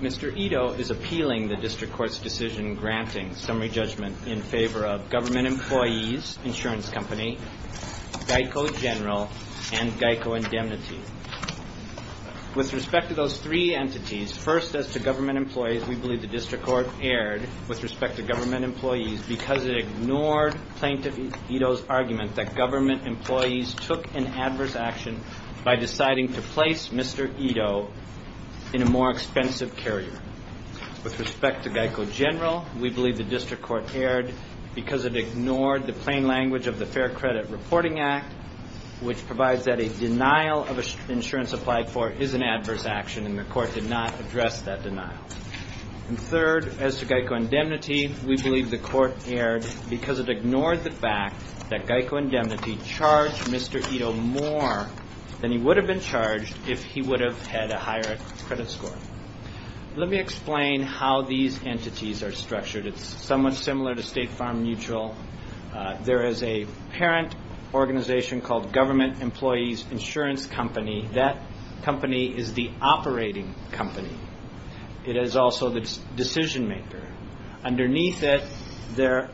Mr. Edo is appealing the District Court's decision granting summary judgment in favor of Government Employees, Insurance Company, Geico General, and Geico Indemnity. With respect to those three entities, first as to Government Employees, we believe the District Court erred with respect to Government Employees because it ignored Plaintiff Edo's argument that Government Employees took an adverse action by deciding to place Mr. Edo in a more expensive carrier. With respect to Geico General, we believe the District Court erred because it ignored the plain language of the Fair Credit Reporting Act, which provides that a denial of insurance applied for is an adverse action, and the Court did not address that denial. And third, as to Geico Indemnity, we believe the Court erred because it ignored the fact that it charged Mr. Edo more than he would have been charged if he would have had a higher credit score. Let me explain how these entities are structured. It's somewhat similar to State Farm Mutual. There is a parent organization called Government Employees Insurance Company. That company is the operating company. It is also the decision maker. Underneath it, there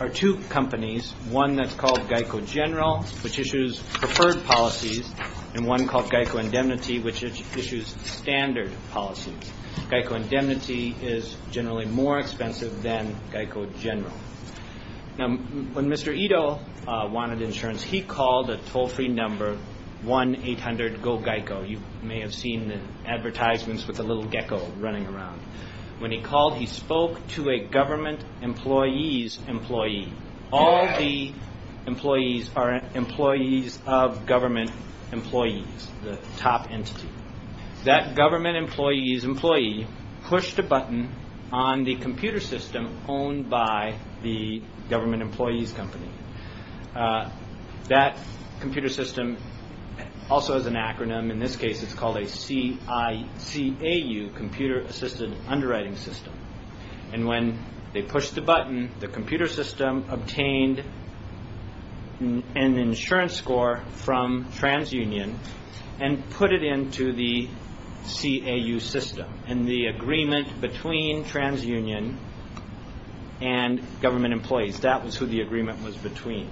are two companies, one that's called Geico General, which issues preferred policies, and one called Geico Indemnity, which issues standard policies. Geico Indemnity is generally more expensive than Geico General. Now, when Mr. Edo wanted insurance, he called a toll-free number, 1-800-GO-GEICO. You may have seen the advertisements with the little gecko running around. When he called, he spoke to a Government Employees employee. All the employees are employees of Government Employees, the top entity. That Government Employees employee pushed a button on the computer system owned by the Government Employees company. That computer system also has an acronym. In this case, it's called a CICAU, Computer Assisted Underwriting System. When they pushed the button, the computer system obtained an insurance score from TransUnion and put it into the CAU system and the agreement between TransUnion and Government Employees. That was who the agreement was between.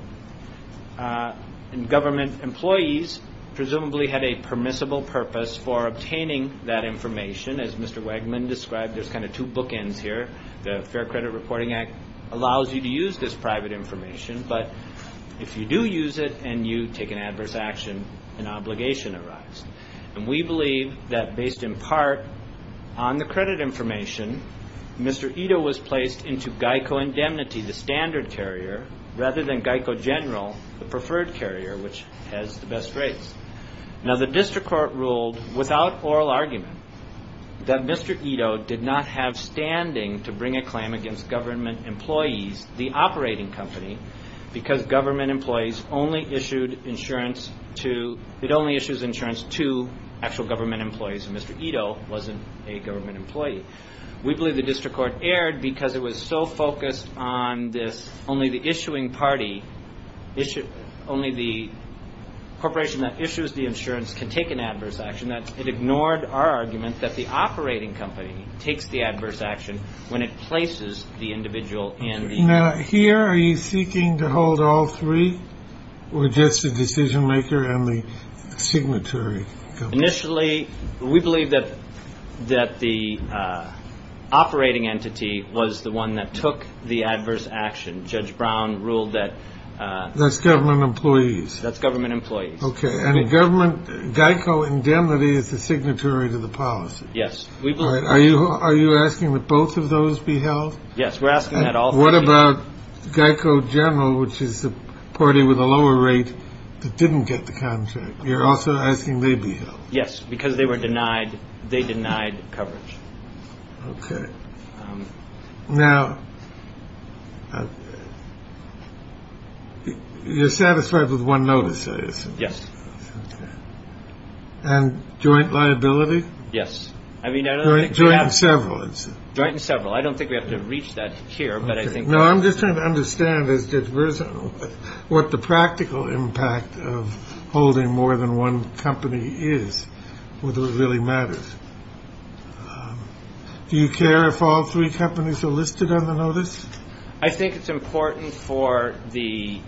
Government Employees presumably had a permissible purpose for obtaining that information. As Mr. Wegman described, there's kind of two bookends here. The Fair Credit Reporting Act allows you to use this private information, but if you do use it and you take an adverse action, an obligation arrives. We believe that based in part on the credit information, Mr. Edo was placed into Geico Indemnity, the standard carrier, rather than Geico General, the preferred carrier, which has the best rates. Now, the District Court ruled without oral argument that Mr. Edo did not have standing to bring a claim against Government Employees, the operating company, because Government Employees only issued insurance to actual Government Employees, and Mr. Edo wasn't a Government Employee. We believe the District Court erred because it was so focused on this only the issuing party, only the corporation that issues the insurance can take an adverse action. It ignored our argument that the operating company takes the adverse action when it places the individual in the… Now, here are you seeking to hold all three, or just the decision maker and the signatory company? Initially, we believe that the operating entity was the one that took the adverse action. Judge Brown ruled that… That's Government Employees? That's Government Employees. Okay, and Geico Indemnity is the signatory to the policy? Yes. Are you asking that both of those be held? Yes, we're asking that all three. What about Geico General, which is the party with a lower rate that didn't get the contract? You're also asking they be held? Yes, because they denied coverage. Okay. Now, you're satisfied with one notice, I assume? Yes. Okay. And joint liability? Yes. Joint and several, I'd say. Joint and several. I don't think we have to reach that here, but I think… No, I'm just trying to understand what the practical impact of holding more than one company is, whether it really matters. Do you care if all three companies are listed on the notice? I think it's important for the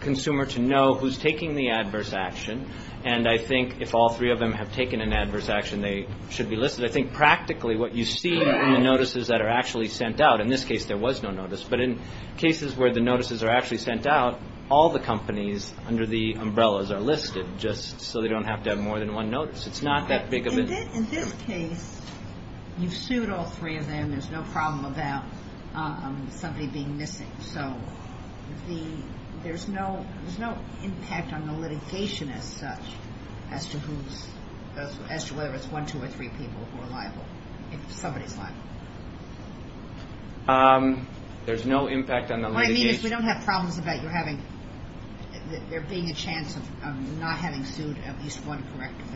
consumer to know who's taking the adverse action, and I think if all three of them have taken an adverse action, they should be listed. I think practically what you see in the notices that are actually sent out, in this case there was no notice, but in cases where the notices are actually sent out, all the companies under the umbrellas are listed, just so they don't have to have more than one notice. It's not that big of a… In this case, you've sued all three of them. There's no problem about somebody being missing. There's no impact on the litigation as such as to whether it's one, two, or three people who are liable, if somebody's liable. There's no impact on the litigation. What I mean is we don't have problems about there being a chance of not having sued at least one corrective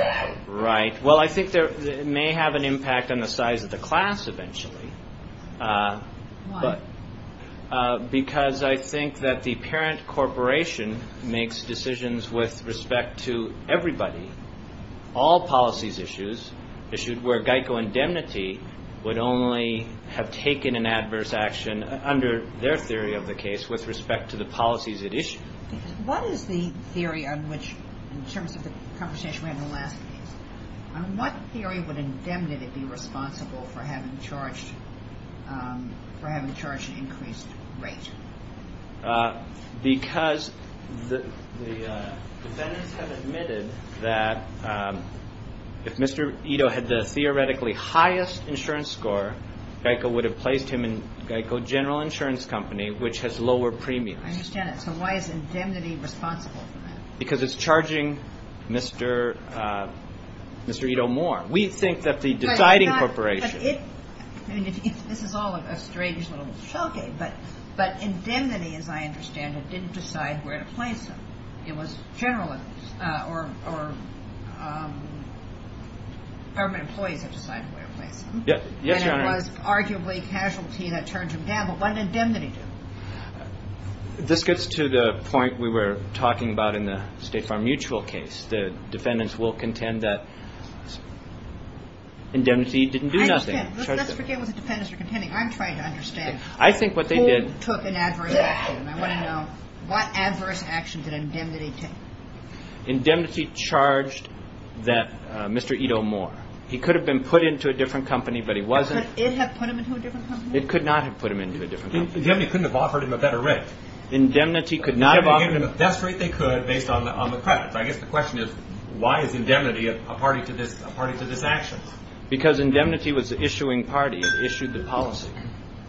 act. Right. Well, I think it may have an impact on the size of the class eventually. Why? Because I think that the parent corporation makes decisions with respect to everybody, all policies issued where GEICO indemnity would only have taken an adverse action, under their theory of the case, with respect to the policies it issued. What is the theory on which, in terms of the conversation around the last case, on what theory would indemnity be responsible for having charged an increased rate? Because the defendants have admitted that if Mr. Ito had the theoretically highest insurance score, GEICO would have placed him in GEICO General Insurance Company, which has lower premiums. I understand that. So why is indemnity responsible for that? Because it's charging Mr. Ito more. We think that the deciding corporation. This is all a strange little showcase, but indemnity, as I understand it, didn't decide where to place him. It was general or government employees that decided where to place him. Yes, Your Honor. And it was arguably casualty that turned him down. But what did indemnity do? This gets to the point we were talking about in the State Farm Mutual case. The defendants will contend that indemnity didn't do nothing. Let's forget what the defendants are contending. I'm trying to understand who took an adverse action. I want to know what adverse action did indemnity take? Indemnity charged that Mr. Ito more. He could have been put into a different company, but he wasn't. Could it have put him into a different company? It could not have put him into a different company. Indemnity couldn't have offered him a better rate. Indemnity could not have offered him... They gave him the best rate they could based on the credits. I guess the question is, why is indemnity a party to this action? Because indemnity was the issuing party. It issued the policy.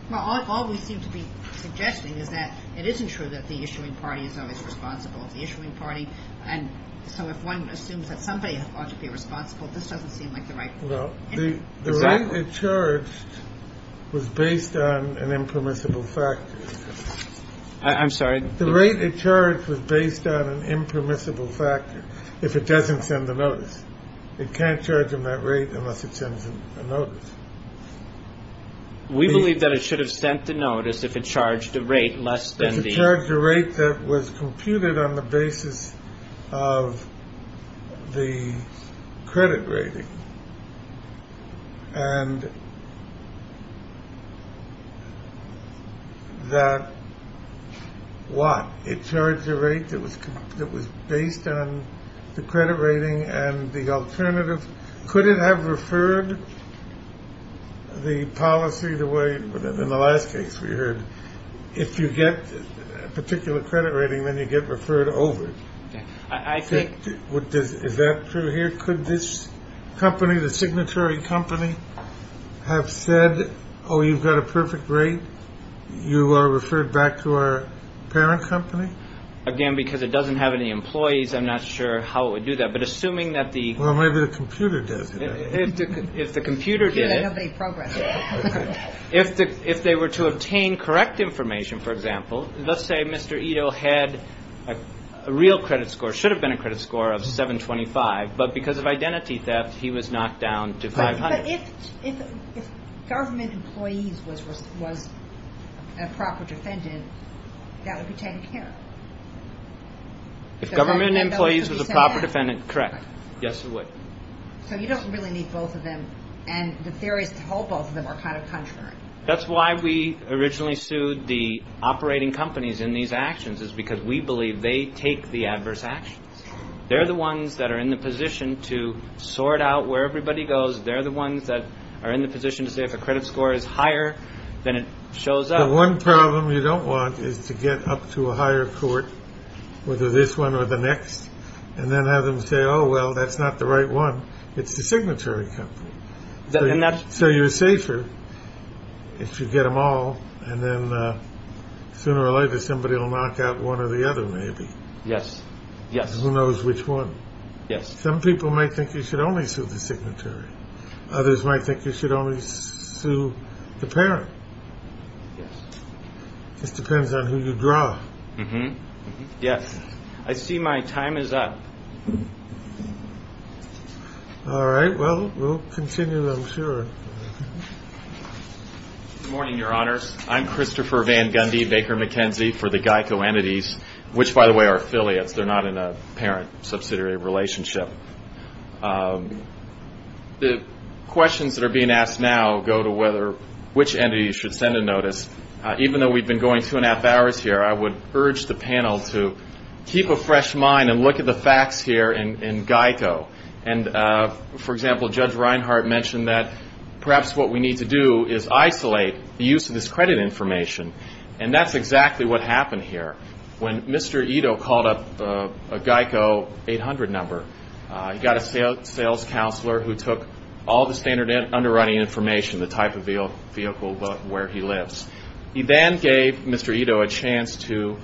Well, all we seem to be suggesting is that it isn't true that the issuing party is always responsible. If the issuing party, and so if one assumes that somebody ought to be responsible, this doesn't seem like the right thing. Well, the rate it charged was based on an impermissible factor. I'm sorry? The rate it charged was based on an impermissible factor if it doesn't send the notice. It can't charge him that rate unless it sends him a notice. We believe that it should have sent the notice if it charged a rate less than the... And that... What? It charged a rate that was based on the credit rating and the alternative. Could it have referred the policy the way, in the last case we heard, if you get a particular credit rating, then you get referred over? I think... Is that true here? Could this company, the signatory company, have said, oh, you've got a perfect rate, you are referred back to our parent company? Again, because it doesn't have any employees, I'm not sure how it would do that. But assuming that the... Well, maybe the computer does it. If the computer did it... Here, let everybody progress. If they were to obtain correct information, for example, let's say Mr. Ito had a real credit score, should have been a credit score of 725, but because of identity theft, he was knocked down to 500. But if government employees was a proper defendant, that would be taken care of. If government employees was a proper defendant, correct. Yes, it would. So you don't really need both of them, and the theories to hold both of them are kind of contrary. That's why we originally sued the operating companies in these actions, is because we believe they take the adverse actions. They're the ones that are in the position to sort out where everybody goes. They're the ones that are in the position to say if a credit score is higher than it shows up. The one problem you don't want is to get up to a higher court, whether this one or the next, and then have them say, oh, well, that's not the right one. It's the signatory company. So you're safer if you get them all, and then sooner or later somebody will knock out one or the other, maybe. Yes, yes. Who knows which one. Yes. Some people might think you should only sue the signatory. Others might think you should only sue the parent. Yes. Just depends on who you draw. Yes. I see my time is up. All right. Well, we'll continue, I'm sure. Good morning, Your Honors. I'm Christopher Van Gundy, Baker McKenzie for the GEICO entities, which, by the way, are affiliates. They're not in a parent-subsidiary relationship. The questions that are being asked now go to which entity you should send a notice. Even though we've been going two and a half hours here, I would urge the panel to keep a fresh mind and look at the facts here in GEICO. And, for example, Judge Reinhart mentioned that perhaps what we need to do is isolate the use of this credit information, and that's exactly what happened here. When Mr. Ito called up a GEICO 800 number, he got a sales counselor who took all the standard underwriting information, the type of vehicle where he lives. He then gave Mr. Ito a chance to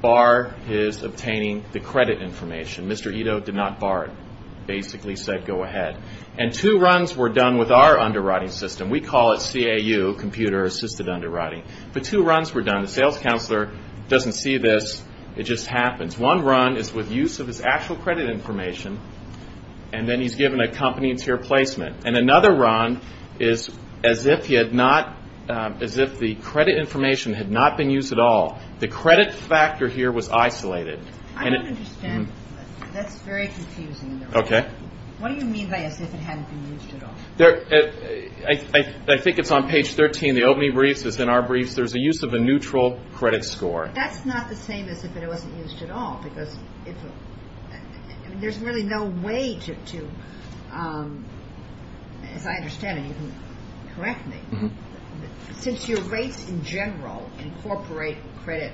bar his obtaining the credit information. Mr. Ito did not bar it, basically said go ahead. And two runs were done with our underwriting system. We call it CAU, computer-assisted underwriting. But two runs were done. The sales counselor doesn't see this. It just happens. One run is with use of his actual credit information, and then he's given a company-tier placement. And another run is as if the credit information had not been used at all. The credit factor here was isolated. I don't understand. That's very confusing. Okay. What do you mean by as if it hadn't been used at all? I think it's on page 13 of the opening briefs. It's in our briefs. There's a use of a neutral credit score. That's not the same as if it wasn't used at all because there's really no way to, as I understand it, you can correct me. Since your rates in general incorporate credit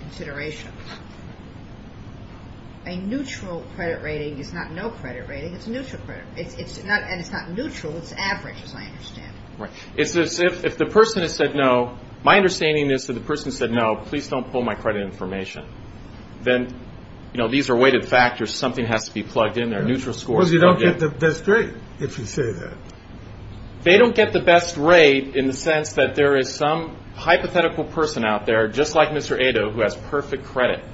considerations, a neutral credit rating is not no credit rating. It's neutral credit. And it's not neutral. It's average, as I understand it. Right. It's as if the person has said no. My understanding is that the person said no, please don't pull my credit information. Then these are weighted factors. Something has to be plugged in. They're neutral scores. Because you don't get the best rate if you say that. They don't get the best rate in the sense that there is some hypothetical person out there, just like Mr. Ado, who has perfect credit.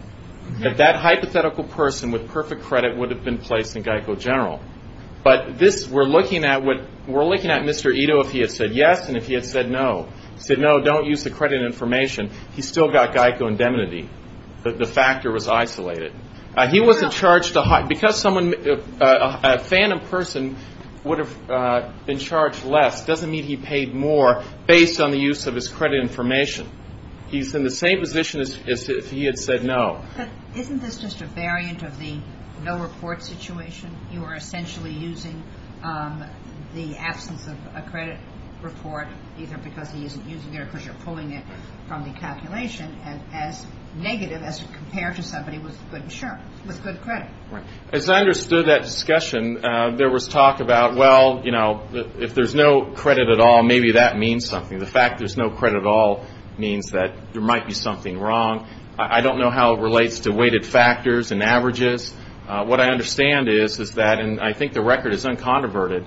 That hypothetical person with perfect credit would have been placed in GEICO general. But we're looking at Mr. Ado if he had said yes and if he had said no. He said no, don't use the credit information. He's still got GEICO indemnity. The factor was isolated. He wasn't charged a high. Because a phantom person would have been charged less doesn't mean he paid more based on the use of his credit information. He's in the same position as if he had said no. But isn't this just a variant of the no report situation? You are essentially using the absence of a credit report either because he isn't using it or because you're pulling it from the calculation as negative as compared to somebody with good credit. As I understood that discussion, there was talk about, well, you know, if there's no credit at all, maybe that means something. The fact there's no credit at all means that there might be something wrong. I don't know how it relates to weighted factors and averages. What I understand is that, and I think the record is unconverted,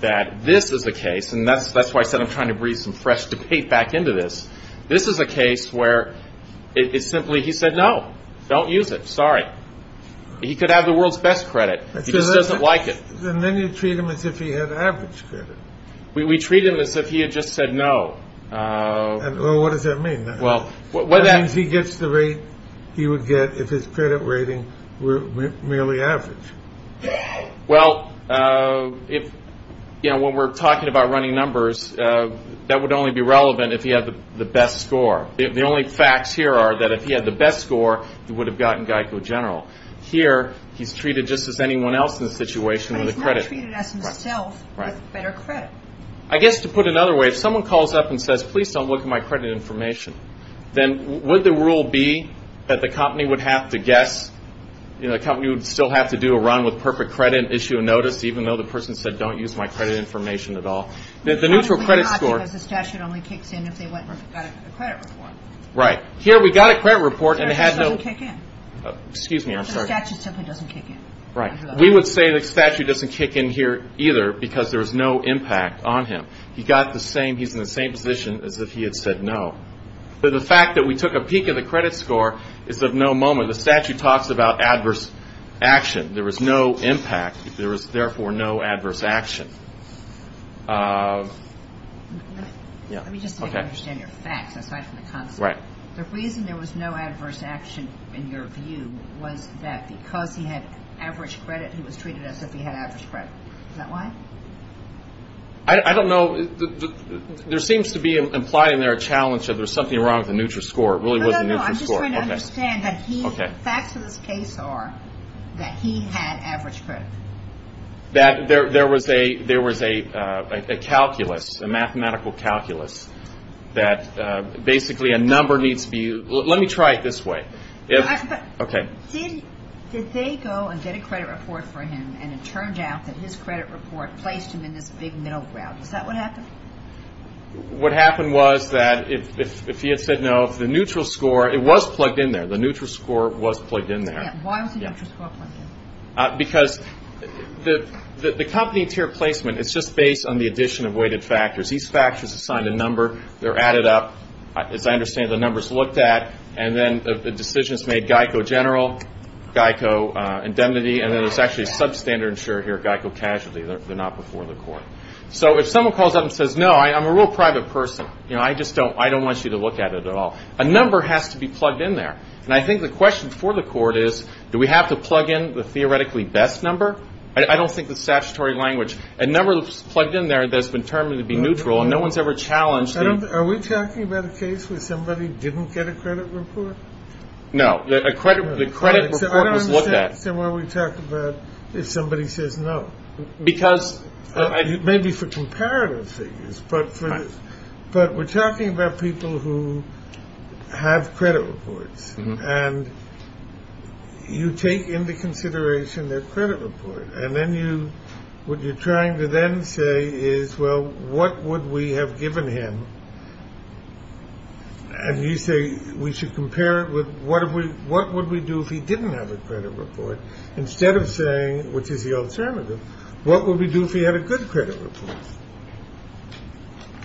that this is the case, and that's why I said I'm trying to breathe some fresh debate back into this. This is a case where it's simply he said no, don't use it, sorry. He could have the world's best credit. He just doesn't like it. And then you treat him as if he had average credit. We treat him as if he had just said no. Well, what does that mean? That means he gets the rate he would get if his credit rating were merely average. Well, you know, when we're talking about running numbers, that would only be relevant if he had the best score. The only facts here are that if he had the best score, he would have gotten GEICO General. Here, he's treated just as anyone else in the situation with the credit. He's treated as himself with better credit. I guess to put it another way, if someone calls up and says, please don't look at my credit information, then would the rule be that the company would have to guess, the company would still have to do a run with perfect credit, issue a notice even though the person said don't use my credit information at all? Probably not because the statute only kicks in if they went and got a credit report. Here, we got a credit report and it had no – The statute doesn't kick in. Excuse me, I'm sorry. The statute simply doesn't kick in. Right. We would say the statute doesn't kick in here either because there was no impact on him. He got the same – he's in the same position as if he had said no. The fact that we took a peek at the credit score is of no moment. The statute talks about adverse action. There was no impact. There was, therefore, no adverse action. Let me just understand your facts aside from the concept. Right. The reason there was no adverse action in your view was that because he had average credit, he was treated as if he had average credit. Is that why? I don't know. There seems to be implied in there a challenge that there's something wrong with the neutral score. It really was a neutral score. No, no, no. I'm just trying to understand that he – Okay. The facts of this case are that he had average credit. That there was a calculus, a mathematical calculus that basically a number needs to be – Let me try it this way. Okay. Did they go and get a credit report for him, and it turned out that his credit report placed him in this big middle ground? Is that what happened? What happened was that if he had said no, the neutral score – it was plugged in there. The neutral score was plugged in there. Why was the neutral score plugged in? Because the company tier placement is just based on the addition of weighted factors. These factors assigned a number. They're added up. As I understand it, the number's looked at. And then the decision's made Geico General, Geico Indemnity, and then there's actually a substandard insurer here, Geico Casualty. They're not before the court. So if someone calls up and says, No, I'm a real private person. I just don't want you to look at it at all. A number has to be plugged in there. And I think the question for the court is, Do we have to plug in the theoretically best number? I don't think the statutory language – A number that's plugged in there that's been termed to be neutral, and no one's ever challenged the – No. The credit report was looked at. I don't understand why we talk about if somebody says no. Because – Maybe for comparative things. But we're talking about people who have credit reports. And you take into consideration their credit report. And then what you're trying to then say is, Well, what would we have given him? And you say we should compare it with, What would we do if he didn't have a credit report? Instead of saying, which is the alternative, What would we do if he had a good credit report?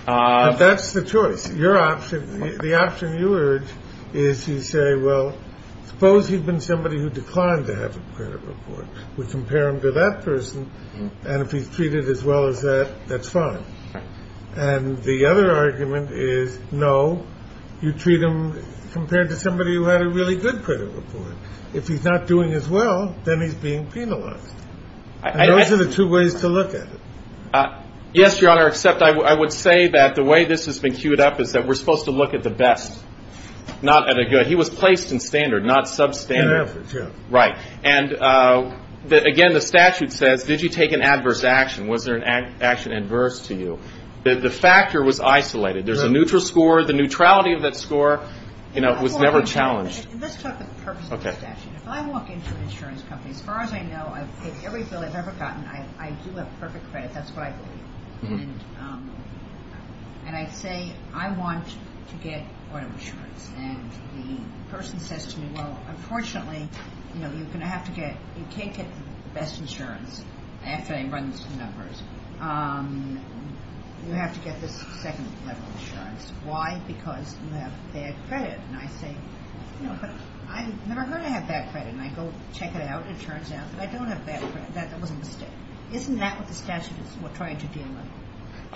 That's the choice. The option you urge is you say, Well, suppose he'd been somebody who declined to have a credit report. We compare him to that person. And if he's treated as well as that, that's fine. And the other argument is, No, you treat him compared to somebody who had a really good credit report. If he's not doing as well, then he's being penalized. And those are the two ways to look at it. Yes, Your Honor, except I would say that the way this has been queued up is that we're supposed to look at the best, not at a good. He was placed in standard, not substandard. In efforts, yeah. Right. And again, the statute says, Did you take an adverse action? Was there an action adverse to you? The factor was isolated. There's a neutral score. The neutrality of that score was never challenged. Let's talk about the purpose of the statute. If I walk into an insurance company, as far as I know, I've paid every bill I've ever gotten. I do have perfect credit. That's what I do. And I say, I want to get auto insurance. And the person says to me, Well, unfortunately, you can't get the best insurance after they run the numbers. You have to get this second level insurance. Why? Because you have bad credit. And I say, I've never heard I have bad credit. And I go check it out, and it turns out that I don't have bad credit. That was a mistake. Isn't that what the statute is trying to deal with?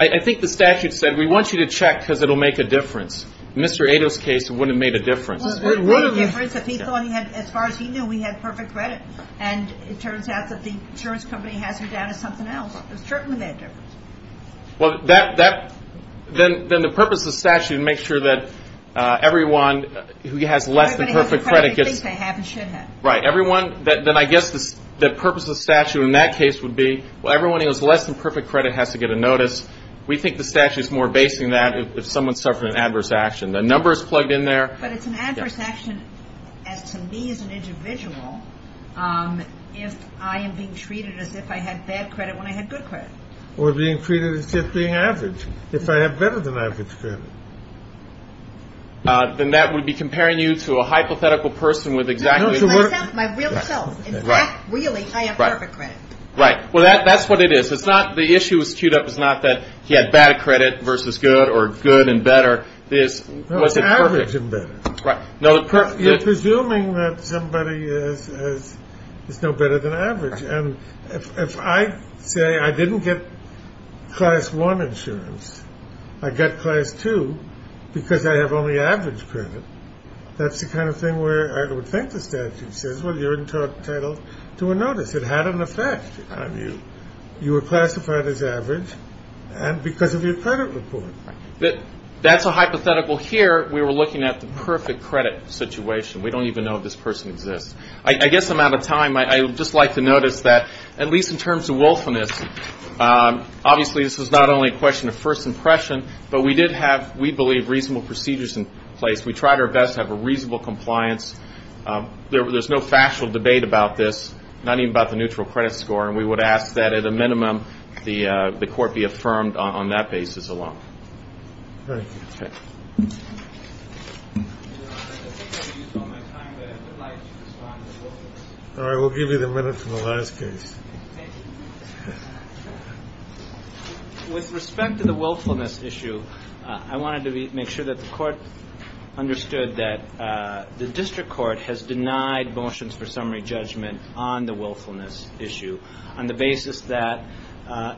I think the statute said, We want you to check because it will make a difference. In Mr. Ado's case, it wouldn't have made a difference. It would have made a difference if he thought he had, as far as he knew, we had perfect credit. And it turns out that the insurance company has him down to something else. There's certainly that difference. Well, then the purpose of the statute is to make sure that everyone who has less than perfect credit gets Everybody who has perfect credit thinks they have and should have. Right. Then I guess the purpose of the statute in that case would be, Well, everyone who has less than perfect credit has to get a notice. We think the statute is more basing that if someone's suffering an adverse action. The number is plugged in there. But it's an adverse action as to me as an individual. If I am being treated as if I had bad credit when I had good credit. Or being treated as if being average. If I have better than average credit. Then that would be comparing you to a hypothetical person with exactly. My real self. In fact, really, I have perfect credit. Right. Well, that's what it is. It's not the issue was queued up. It's not that he had bad credit versus good or good and better. It's average and better. Right. You're presuming that somebody is no better than average. And if I say I didn't get class one insurance. I got class two because I have only average credit. That's the kind of thing where I would think the statute says, Well, you're entitled to a notice. It had an effect on you. You were classified as average. And because of your credit report. That's a hypothetical. Here, we were looking at the perfect credit situation. We don't even know if this person exists. I guess I'm out of time. I would just like to notice that, at least in terms of willfulness, obviously this is not only a question of first impression. But we did have, we believe, reasonable procedures in place. We tried our best to have a reasonable compliance. There's no factual debate about this. Not even about the neutral credit score. And we would ask that, at a minimum, the court be affirmed on that basis alone. Thank you. Okay. Your Honor, I think I've used all my time. But I would like to respond to the willfulness. All right. We'll give you the minute for the last case. Thank you. With respect to the willfulness issue, I wanted to make sure that the court understood that the district court has denied motions for summary judgment on the willfulness issue. On the basis that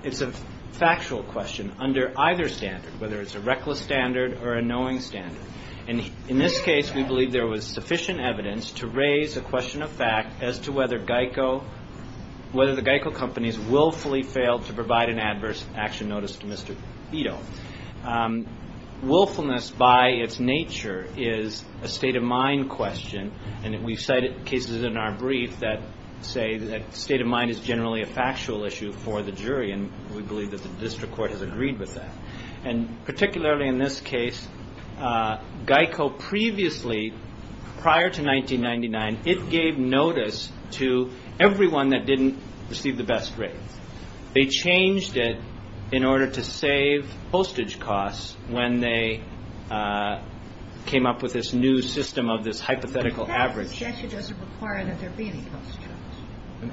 it's a factual question under either standard, whether it's a reckless standard or a knowing standard. And in this case, we believe there was sufficient evidence to raise a question of fact as to whether GEICO, whether the GEICO companies willfully failed to provide an adverse action notice to Mr. Ito. Willfulness, by its nature, is a state of mind question. And we've cited cases in our brief that say that state of mind is generally a factual issue for the jury. And we believe that the district court has agreed with that. And particularly in this case, GEICO previously, prior to 1999, it gave notice to everyone that didn't receive the best rate. They changed it in order to save postage costs when they came up with this new system of this hypothetical average. The statute doesn't require that there be any postage costs.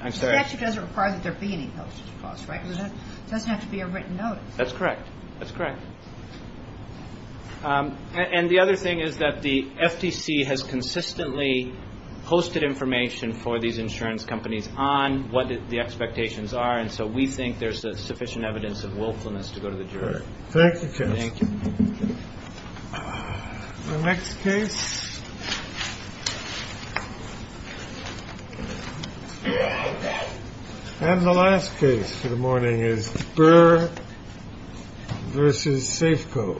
I'm sorry? The statute doesn't require that there be any postage costs, right? It doesn't have to be a written notice. That's correct. That's correct. And the other thing is that the FTC has consistently posted information for these insurance companies on what the expectations are. And so we think there's sufficient evidence of willfulness to go to the jury. Thank you. Thank you. The next case. And the last case for the morning is Burr versus Safeco.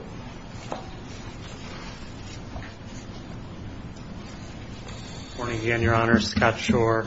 Good morning again, Your Honor. Scott Shore.